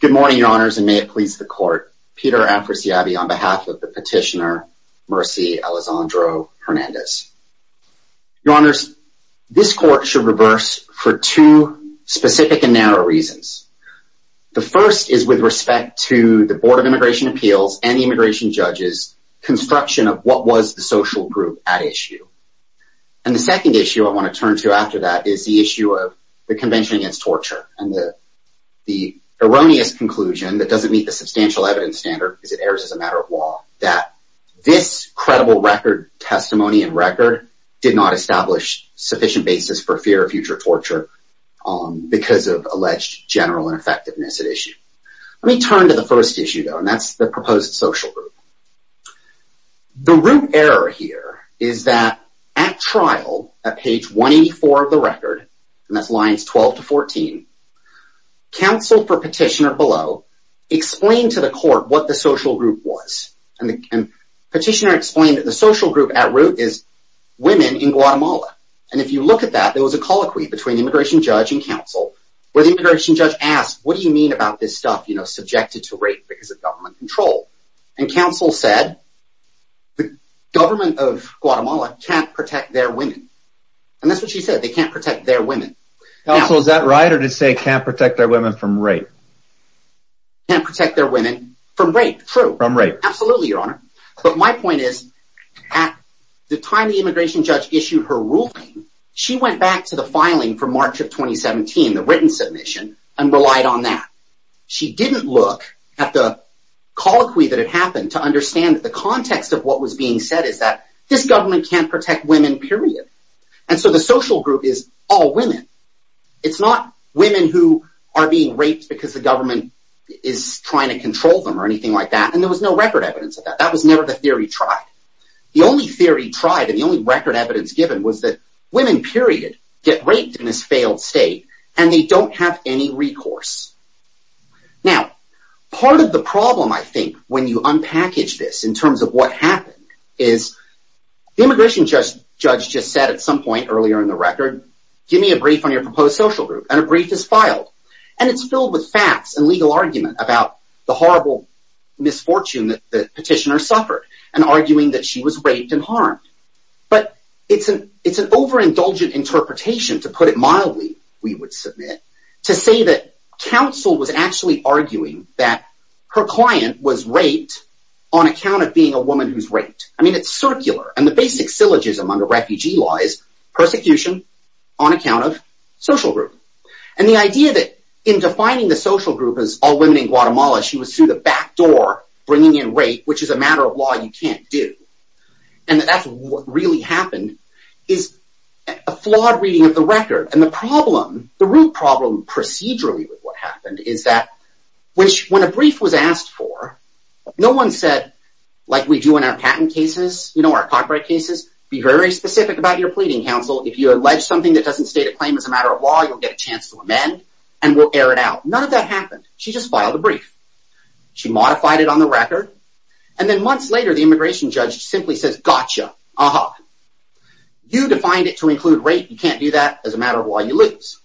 Good morning, Your Honors, and may it please the Court, Peter Afrasiabi on behalf of the petitioner Mercy Alezano-Hernandez. Your Honors, this Court should reverse for two specific and narrow reasons. The first is with respect to the Board of Immigration Appeals and the immigration judges' construction of what was the social group at issue. And the second issue I want to turn to after that is the issue of the Convention Against Torture and the erroneous conclusion that doesn't meet the substantial evidence standard, because it errs as a matter of law, that this credible record testimony and record did not establish sufficient basis for fear of future torture because of alleged general ineffectiveness at issue. Let me turn to the first issue, though, and that's the proposed social group. The root error here is that at trial, at page 184 of the record, and that's lines 12 to 14, counsel for petitioner below explained to the court what the social group was. And the petitioner explained that the social group at root is women in Guatemala. And if you look at that, there was a colloquy between immigration judge and counsel where the immigration judge asked, what do you mean about this stuff, you know, subjected to rape because of government control? And counsel said, the government of Guatemala can't protect their women. And that's what she said. They can't protect their women. Counsel, is that right or to say can't protect their women from rape? Can't protect their women from rape. True. From rape. Absolutely, Your Honor. But my point is, at the time the immigration judge issued her ruling, she went back to the filing for March of 2017, the written submission, and relied on that. She didn't look at the colloquy that had happened to understand that the context of what was being said is that this government can't protect women, period. And so the social group is all women. It's not women who are being raped because the government is trying to control them or anything like that. And there was no record evidence of that. That was never the theory tried. The only theory tried and the only record evidence given was that women, period, get raped in this failed state and they don't have any recourse. Now, part of the problem, I think, when you unpackage this in terms of what happened is the immigration judge just said at some point earlier in the record, give me a brief on your proposed social group and a brief is filed. And it's filled with facts and legal argument about the horrible misfortune that the petitioner suffered and arguing that she was raped and harmed. But it's an it's an overindulgent interpretation, to put it mildly, we would submit to say that counsel was actually arguing that her client was raped on account of being a woman who's raped. I mean, it's circular and the basic syllogism under refugee law is persecution on account of social group. And the idea that in defining the social group as all women in Guatemala, she was through the back door bringing in rape, which is a matter of law you can't do. And that's what really happened is a flawed reading of the record. And the problem, the root problem procedurally with what happened is that when a brief was asked for, no one said like we do in our patent cases, you know, our copyright cases be very specific about your pleading counsel. If you allege something that doesn't state a claim as a matter of law, you'll get a chance to amend and we'll air it out. None of that happened. She just filed a brief. She modified it on the record. And then months later, the immigration judge simply says, gotcha. You defined it to include rape. You can't do that as a matter of law. You lose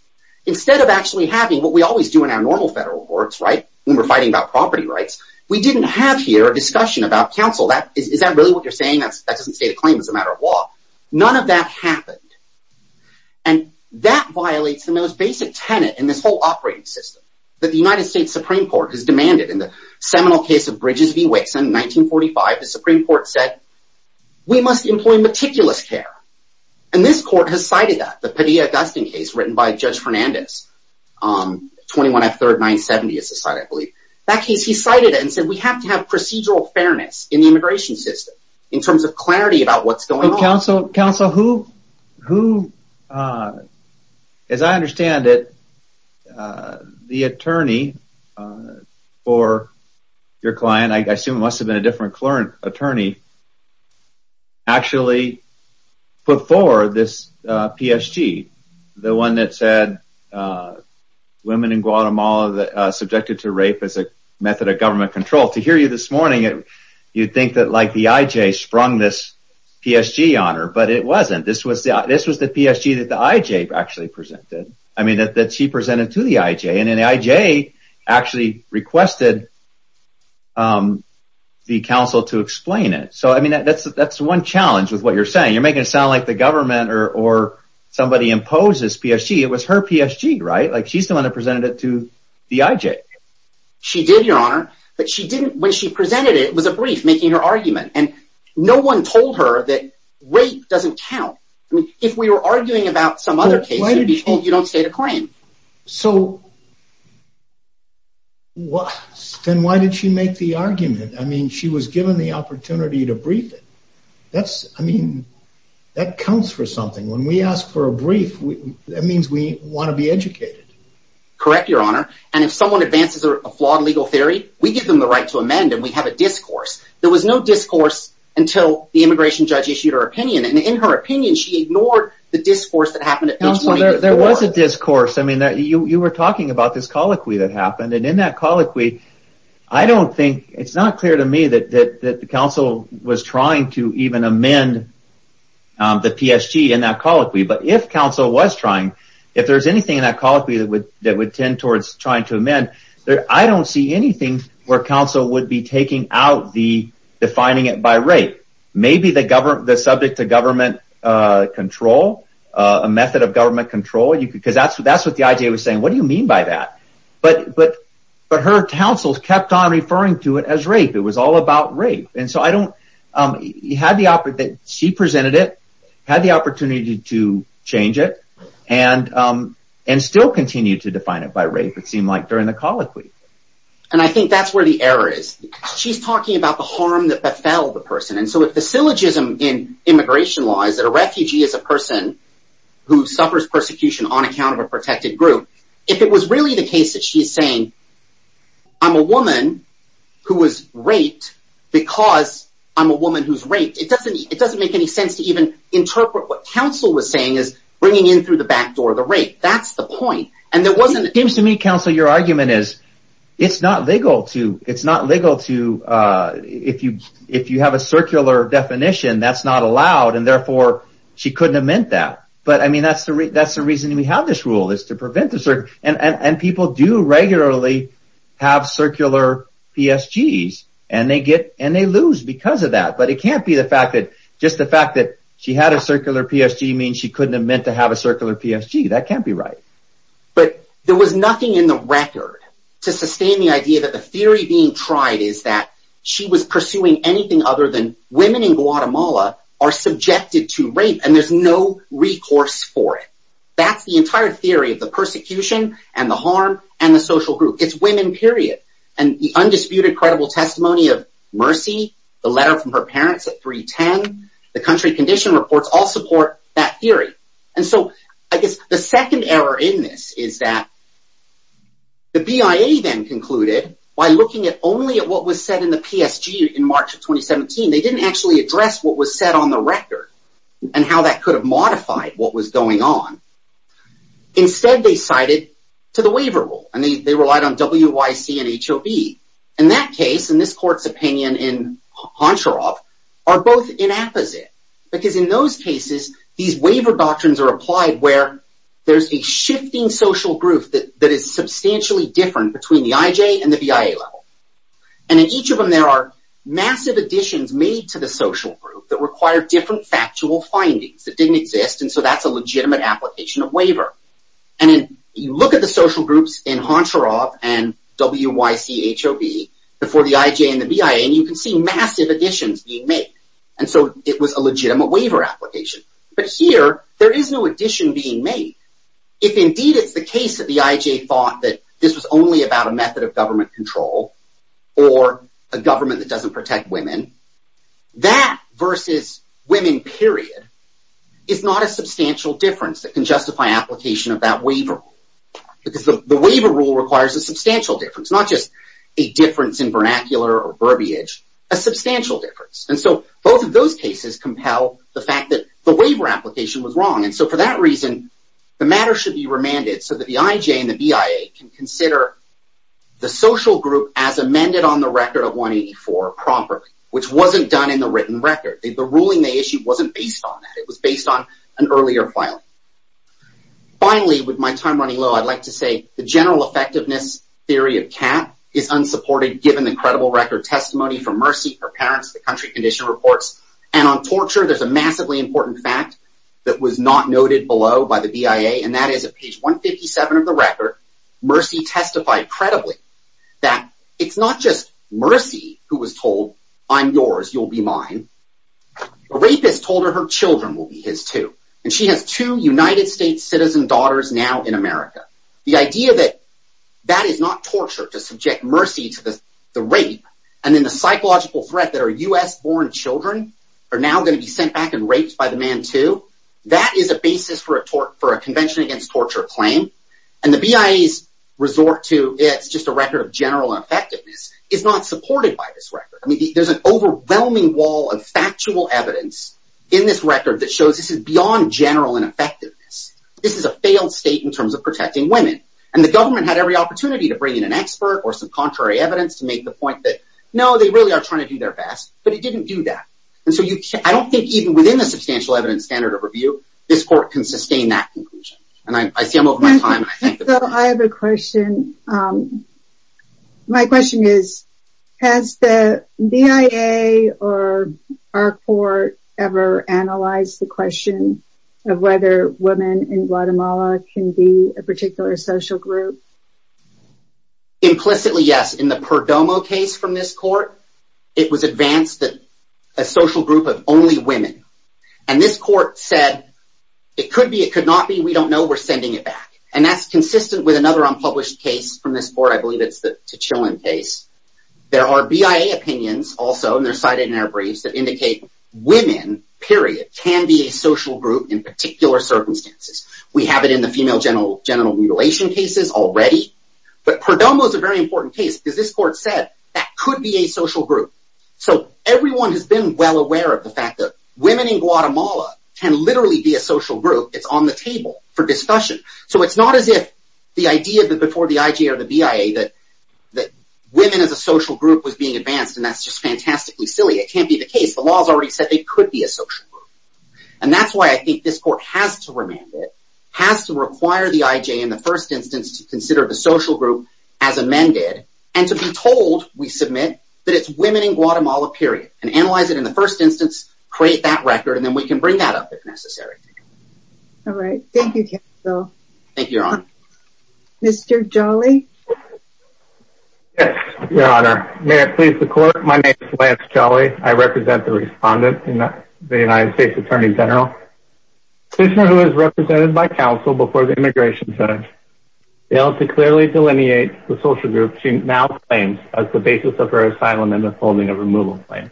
instead of actually having what we always do in our normal federal courts. Right. When we're fighting about property rights, we didn't have here a discussion about counsel. That is that really what you're saying? That doesn't state a claim as a matter of law. None of that happened. And that violates the most basic tenet in this whole operating system that the United States Supreme Court has demanded. In the seminal case of Bridges v. Wixon, 1945, the Supreme Court said we must employ meticulous care. And this court has cited that the Padilla-Augustine case written by Judge Fernandez, 21 F. 3rd, 970 is the site, I believe. He cited it and said we have to have procedural fairness in the immigration system in terms of clarity about what's going on. Counsel, who, as I understand it, the attorney for your client, I assume it must have been a different attorney, actually put forward this PSG. The one that said women in Guatemala are subjected to rape as a method of government control. To hear you this morning, you'd think that the I.J. sprung this PSG on her, but it wasn't. This was the PSG that the I.J. actually presented. I mean, that she presented to the I.J., and the I.J. actually requested the counsel to explain it. So, I mean, that's one challenge with what you're saying. You're making it sound like the government or somebody imposed this PSG. It was her PSG, right? Like, she's the one that presented it to the I.J. She did, Your Honor. But she didn't, when she presented it, it was a brief making her argument. And no one told her that rape doesn't count. I mean, if we were arguing about some other case, you don't state a claim. So, then why did she make the argument? I mean, she was given the opportunity to brief it. That's, I mean, that counts for something. When we ask for a brief, that means we want to be educated. Correct, Your Honor. And if someone advances a flawed legal theory, we give them the right to amend, and we have a discourse. There was no discourse until the immigration judge issued her opinion. And in her opinion, she ignored the discourse that happened at page 24. There was a discourse. I mean, you were talking about this colloquy that happened. And in that colloquy, I don't think, it's not clear to me that the counsel was trying to even amend the PSG in that colloquy. But if counsel was trying, if there's anything in that colloquy that would tend towards trying to amend, I don't see anything where counsel would be taking out the defining it by rape. Maybe the subject to government control, a method of government control. Because that's what the I.J. was saying. What do you mean by that? But her counsel kept on referring to it as rape. It was all about rape. And so I don't, she presented it, had the opportunity to change it, and still continue to define it by rape. It seemed like during the colloquy. And I think that's where the error is. She's talking about the harm that befell the person. And so if the syllogism in immigration law is that a refugee is a person who suffers persecution on account of a protected group, if it was really the case that she's saying I'm a woman who was raped because I'm a woman who's raped, it doesn't make any sense to even interpret what counsel was saying as bringing in through the back door the rape. That's the point. It seems to me, counsel, your argument is it's not legal to, if you have a circular definition, that's not allowed. And therefore, she couldn't have meant that. But, I mean, that's the reason we have this rule is to prevent this. And people do regularly have circular PSGs. And they get and they lose because of that. But it can't be the fact that just the fact that she had a circular PSG means she couldn't have meant to have a circular PSG. That can't be right. But there was nothing in the record to sustain the idea that the theory being tried is that she was pursuing anything other than women in Guatemala are subjected to rape. And there's no recourse for it. That's the entire theory of the persecution and the harm and the social group. It's women, period. And the undisputed credible testimony of Mercy, the letter from her parents at 310, the country condition reports all support that theory. And so I guess the second error in this is that the BIA then concluded by looking at only at what was said in the PSG in March of 2017, they didn't actually address what was said on the record and how that could have modified what was going on. Instead, they cited to the waiver rule. And they relied on WYC and HOB. In that case, in this court's opinion in Honcharov, are both inapposite. Because in those cases, these waiver doctrines are applied where there's a shifting social group that is substantially different between the IJ and the BIA level. And in each of them, there are massive additions made to the social group that require different factual findings that didn't exist. And so that's a legitimate application of waiver. And you look at the social groups in Honcharov and WYC, HOB before the IJ and the BIA, and you can see massive additions being made. And so it was a legitimate waiver application. But here, there is no addition being made. If indeed it's the case that the IJ thought that this was only about a method of government control or a government that doesn't protect women, that versus women, period, is not a substantial difference that can justify application of that waiver. Because the waiver rule requires a substantial difference, not just a difference in vernacular or verbiage, a substantial difference. And so both of those cases compel the fact that the waiver application was wrong. And so for that reason, the matter should be remanded so that the IJ and the BIA can consider the social group as amended on the record of 184 properly, which wasn't done in the written record. The ruling they issued wasn't based on that. It was based on an earlier filing. Finally, with my time running low, I'd like to say the general effectiveness theory of CAT is unsupported given the credible record testimony from Mercy, her parents, the country condition reports. And on torture, there's a massively important fact that was not noted below by the BIA. And that is at page 157 of the record, Mercy testified credibly that it's not just Mercy who was told, I'm yours, you'll be mine. A rapist told her her children will be his, too. And she has two United States citizen daughters now in America. The idea that that is not torture, to subject Mercy to the rape, and then the psychological threat that her U.S.-born children are now going to be sent back and raped by the man, too, that is a basis for a convention against torture claim. And the BIA's resort to it's just a record of general effectiveness is not supported by this record. I mean, there's an overwhelming wall of factual evidence in this record that shows this is beyond general ineffectiveness. This is a failed state in terms of protecting women. And the government had every opportunity to bring in an expert or some contrary evidence to make the point that, no, they really are trying to do their best. But it didn't do that. And so I don't think even within the substantial evidence standard of review, this court can sustain that conclusion. And I see I'm over my time. I have a question. My question is, has the BIA or our court ever analyzed the question of whether women in Guatemala can be a particular social group? Implicitly, yes. In the Perdomo case from this court, it was advanced that a social group of only women. And this court said it could be. It could not be. We don't know. We're sending it back. And that's consistent with another unpublished case from this court. I believe it's the Chilean case. There are BIA opinions also, and they're cited in our briefs that indicate women, period, can be a social group in particular circumstances. We have it in the female genital mutilation cases already. But Perdomo is a very important case because this court said that could be a social group. So everyone has been well aware of the fact that women in Guatemala can literally be a social group. It's on the table for discussion. So it's not as if the idea before the IJ or the BIA that women as a social group was being advanced, and that's just fantastically silly. It can't be the case. The law has already said they could be a social group. And that's why I think this court has to remand it, has to require the IJ in the first instance to consider the social group as amended, and to be told, we submit, that it's women in Guatemala, period, and analyze it in the first instance, create that record, and then we can bring that up if necessary. All right. Thank you, counsel. Thank you, Your Honor. Mr. Jolly? Yes, Your Honor. May it please the court, my name is Lance Jolly. I represent the respondent, the United States Attorney General. A petitioner who was represented by counsel before the Immigration Center, failed to clearly delineate the social group she now claims as the basis of her asylum and withholding of removal claim.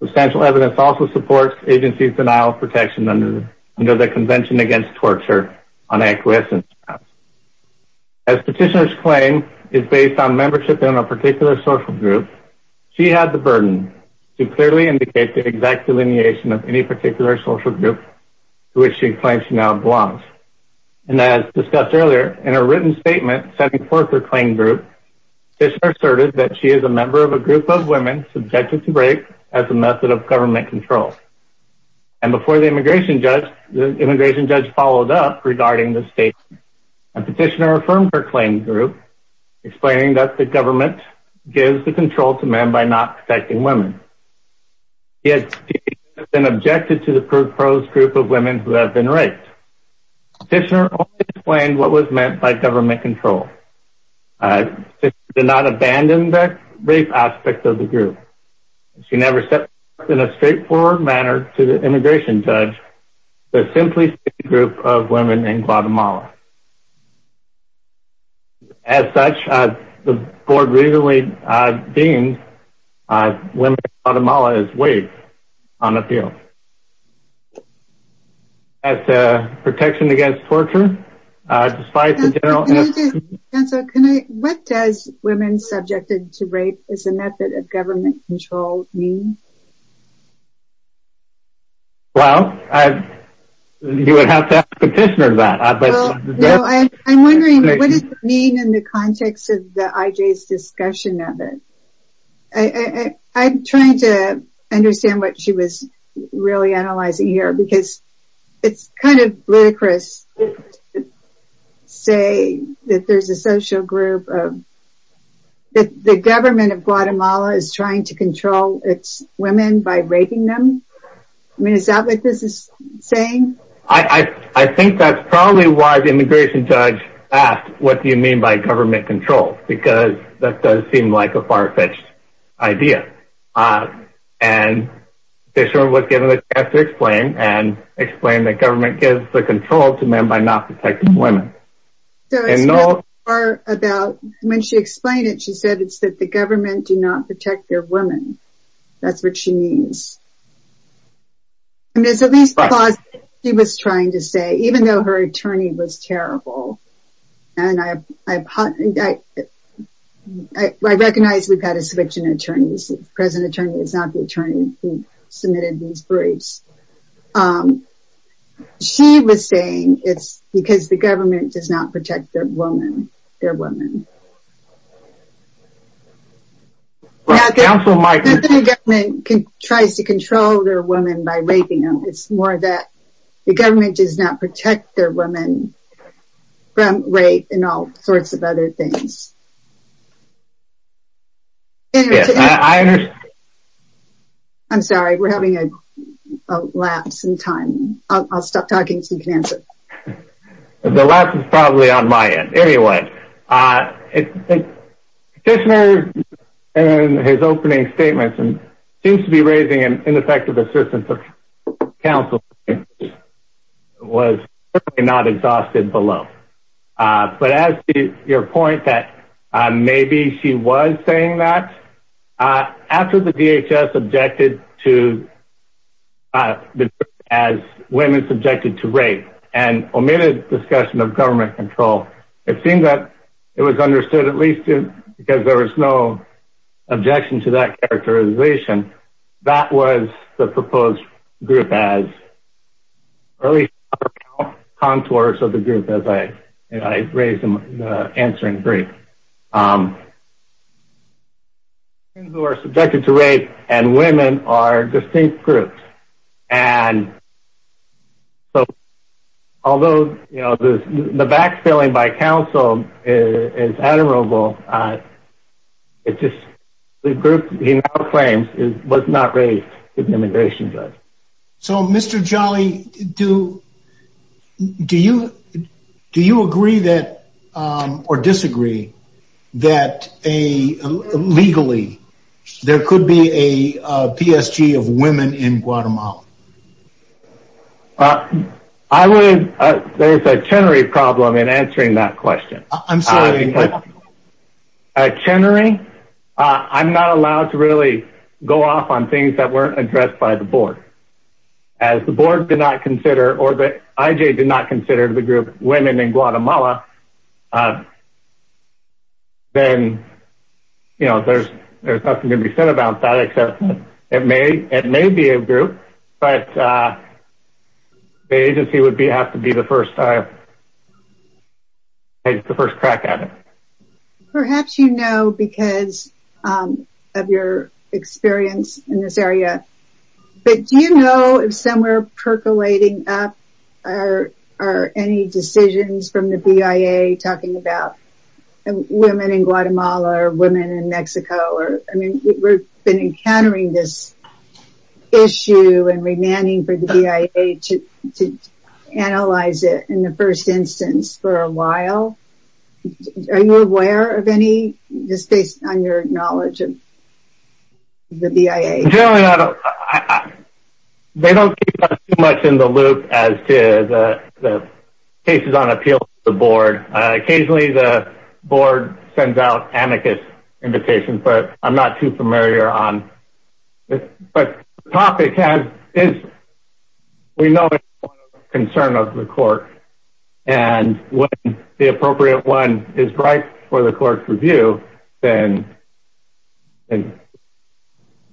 Substantial evidence also supports agencies' denial of protection under the Convention Against Torture on acquiescence grounds. As petitioner's claim is based on membership in a particular social group, she had the burden to clearly indicate the exact delineation of any particular social group to which she claims she now belongs. And as discussed earlier, in her written statement sending forth her claim group, petitioner asserted that she is a member of a group of women subjected to rape as a method of government control. And before the immigration judge, the immigration judge followed up regarding the statement. And petitioner affirmed her claim group, explaining that the government gives the control to men by not protecting women. Yet she has been objected to the proposed group of women who have been raped. Petitioner only explained what was meant by government control. She did not abandon the rape aspect of the group. She never stepped up in a straightforward manner to the immigration judge to simply state the group of women in Guatemala. As such, the board recently deemed women in Guatemala as waived on appeal. As to protection against torture, despite the general... Counselor, what does women subjected to rape as a method of government control mean? Well, you would have to ask the petitioner that. I'm wondering, what does it mean in the context of the IJ's discussion of it? I'm trying to understand what she was really analyzing here, because it's kind of ludicrous to say that there's a social group of... The government of Guatemala is trying to control its women by raping them? I mean, is that what this is saying? I think that's probably why the immigration judge asked, what do you mean by government control? Because that does seem like a far-fetched idea. And the petitioner was given the chance to explain, and explain that government gives the control to men by not protecting women. So it's more about, when she explained it, she said it's that the government do not protect their women. That's what she means. And it's at least plausible, she was trying to say, even though her attorney was terrible. And I recognize we've had a selection of attorneys, the present attorney is not the attorney who submitted these briefs. She was saying it's because the government does not protect their women. The government tries to control their women by raping them. It's more that the government does not protect their women from rape and all sorts of other things. I'm sorry, we're having a lapse in time. I'll stop talking so you can answer. The lapse is probably on my end. Anyway, the petitioner, in his opening statements, seems to be raising an ineffective assertion that counsel was not exhausted below. But as to your point that maybe she was saying that, after the DHS objected to women subjected to rape, and omitted discussion of government control, it seemed that it was understood, at least because there was no objection to that characterization, that was the proposed group as early contours of the group, as I raised in the answering brief. Women who are subjected to rape and women are distinct groups. Although the backfilling by counsel is admirable, the group he now claims was not raised to the immigration judge. So, Mr. Jolly, do you agree or disagree that legally there could be a PSG of women in Guatemala? There's a Chenery problem in answering that question. I'm sorry, what? At Chenery, I'm not allowed to really go off on things that weren't addressed by the board. As the board did not consider, or that IJ did not consider the group women in Guatemala, then, you know, there's nothing to be said about that except that it may be a group, but the agency would have to be the first crack at it. Perhaps you know because of your experience in this area, but do you know if somewhere percolating up are any decisions from the BIA talking about women in Guatemala or women in Mexico? I mean, we've been encountering this issue and demanding for the BIA to analyze it in the first instance for a while. Are you aware of any, just based on your knowledge of the BIA? Generally, they don't keep us too much in the loop as to the cases on appeal to the board. Occasionally, the board sends out amicus invitations, but I'm not too familiar on this. But the topic is we know the concern of the court, and when the appropriate one is right for the court's review, then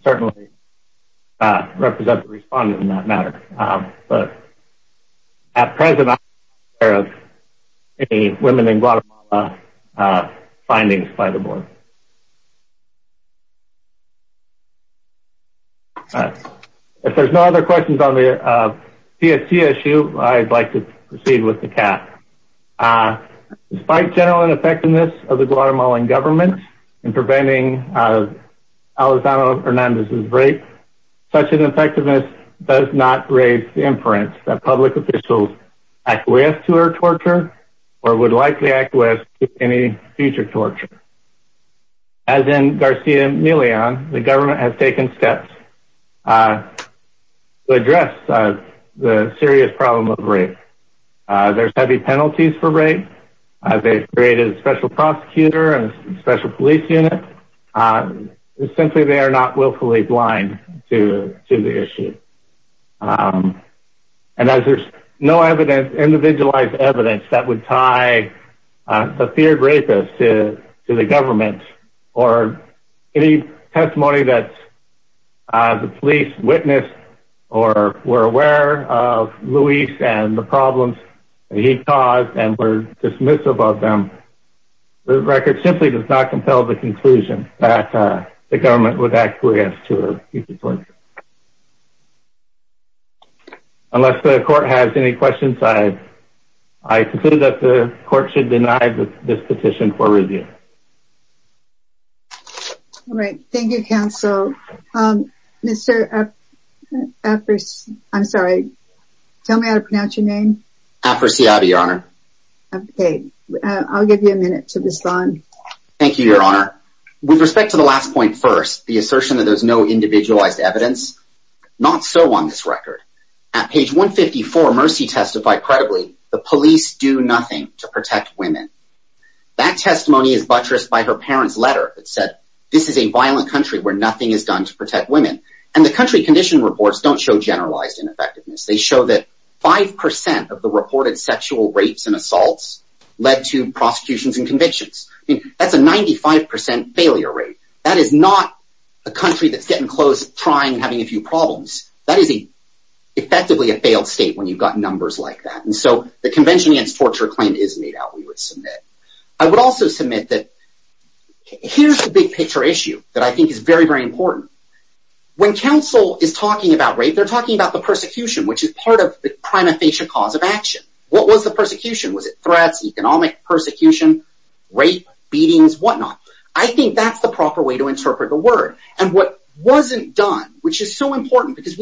certainly represent the respondent in that matter. But at present, I'm not aware of any women in Guatemala findings by the board. If there's no other questions on the CFC issue, I'd like to proceed with the CAC. Despite general ineffectiveness of the Guatemalan government in preventing Elizondo Hernandez's rape, such an effectiveness does not raise the inference that public officials acquiesce to her torture or would likely acquiesce to any future torture. As in Garcia Milian, the government has taken steps to address the serious problem of rape. There's heavy penalties for rape. They've created a special prosecutor and a special police unit. Essentially, they are not willfully blind to the issue. And as there's no individualized evidence that would tie the feared rapist to the government or any testimony that the police witnessed or were aware of Luis and the problems he caused and were dismissive of them, the record simply does not compel the conclusion that the government would acquiesce to a future torture. Unless the court has any questions, I conclude that the court should deny this petition for review. All right. Thank you, counsel. Mr. Aperciada, I'm sorry. Tell me how to pronounce your name. Aperciada, Your Honor. Okay. I'll give you a minute to respond. Thank you, Your Honor. With respect to the last point first, the assertion that there's no individualized evidence, not so on this record. At page 154, Mercy testified credibly, the police do nothing to protect women. That testimony is buttressed by her parents' letter that said, this is a violent country where nothing is done to protect women. And the country condition reports don't show generalized ineffectiveness. They show that 5% of the reported sexual rapes and assaults led to prosecutions and convictions. That's a 95% failure rate. That is not a country that's getting close, trying, having a few problems. That is effectively a failed state when you've got numbers like that. And so the Convention Against Torture claim is made out, we would submit. I would also submit that here's the big picture issue that I think is very, very important. When counsel is talking about rape, they're talking about the persecution, which is part of the prima facie cause of action. What was the persecution? Was it threats, economic persecution, rape, beatings, whatnot? I think that's the proper way to interpret the word. And what wasn't done, which is so important because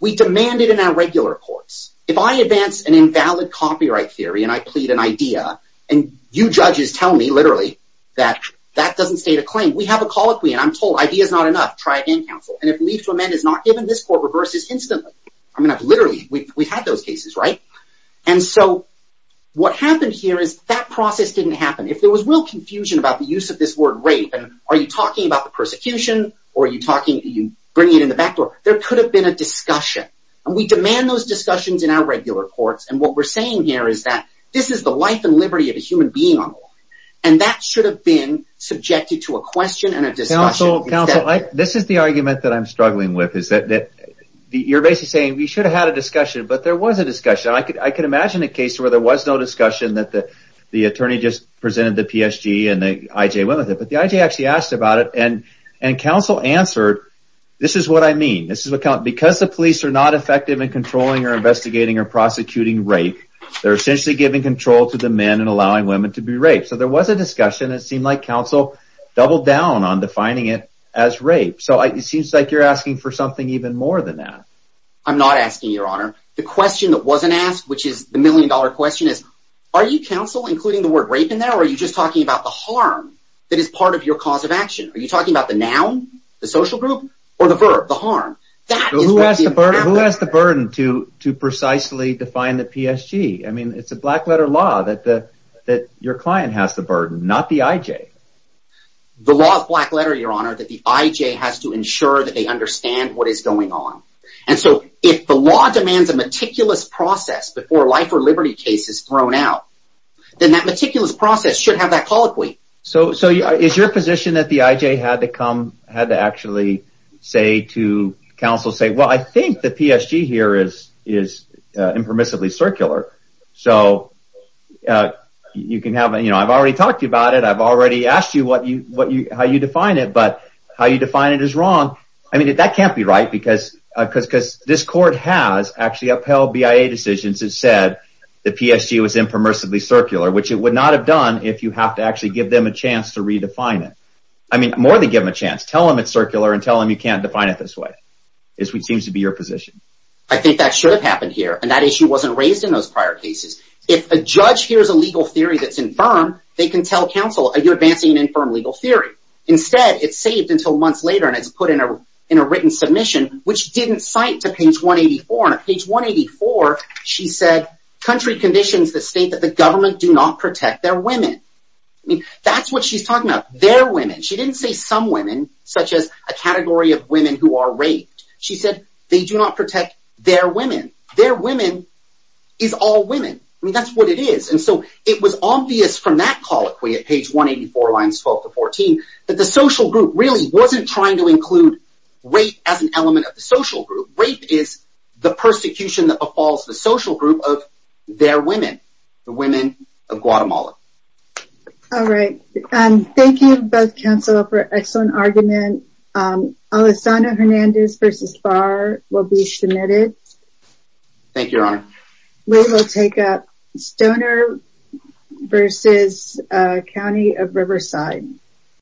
we demanded in our regular courts, if I advance an invalid copyright theory and I plead an idea, and you judges tell me literally that that doesn't state a claim, we have a colloquy, and I'm told idea's not enough, try again, counsel. And if leave to amend is not given, this court reverses instantly. I mean, literally, we've had those cases, right? And so what happened here is that process didn't happen. If there was real confusion about the use of this word rape, and are you talking about the persecution, or are you bringing it in the back door, there could have been a discussion. And we demand those discussions in our regular courts. And what we're saying here is that this is the life and liberty of a human being on the law. And that should have been subjected to a question and a discussion. Counsel, this is the argument that I'm struggling with. You're basically saying we should have had a discussion, but there was a discussion. I could imagine a case where there was no discussion, that the attorney just presented the PSG and the IJ went with it. But the IJ actually asked about it, and counsel answered, this is what I mean. Because the police are not effective in controlling or investigating or prosecuting rape, they're essentially giving control to the men and allowing women to be raped. So there was a discussion. It seemed like counsel doubled down on defining it as rape. So it seems like you're asking for something even more than that. I'm not asking, Your Honor. The question that wasn't asked, which is the million-dollar question, is are you, counsel, including the word rape in there, or are you just talking about the harm that is part of your cause of action? Are you talking about the noun, the social group, or the verb, the harm? Who has the burden to precisely define the PSG? I mean, it's a black-letter law that your client has the burden, not the IJ. The law is black-letter, Your Honor, that the IJ has to ensure that they understand what is going on. And so if the law demands a meticulous process before a life or liberty case is thrown out, then that meticulous process should have that colloquy. So is your position that the IJ had to come, had to actually say to counsel, say, well, I think the PSG here is impermissibly circular. So I've already talked to you about it. I've already asked you how you define it. But how you define it is wrong. I mean, that can't be right because this court has actually upheld BIA decisions that said the PSG was impermissibly circular, which it would not have done if you have to actually give them a chance to redefine it. I mean, more than give them a chance. Tell them it's circular and tell them you can't define it this way. It seems to be your position. I think that should have happened here, and that issue wasn't raised in those prior cases. If a judge hears a legal theory that's infirm, they can tell counsel, you're advancing an infirm legal theory. Instead, it's saved until months later, and it's put in a written submission, which didn't cite to page 184. Page 184, she said, country conditions the state that the government do not protect their women. I mean, that's what she's talking about, their women. She didn't say some women, such as a category of women who are raped. She said they do not protect their women. Their women is all women. I mean, that's what it is. And so it was obvious from that colloquy at page 184, lines 12 to 14, that the social group really wasn't trying to include rape as an element of the social group. Rape is the persecution that befalls the social group of their women, the women of Guatemala. All right. Thank you, both counsel, for an excellent argument. Alessandra Hernandez v. Barr will be submitted. Thank you, Your Honor. We will take up Stoner v. County of Riverside.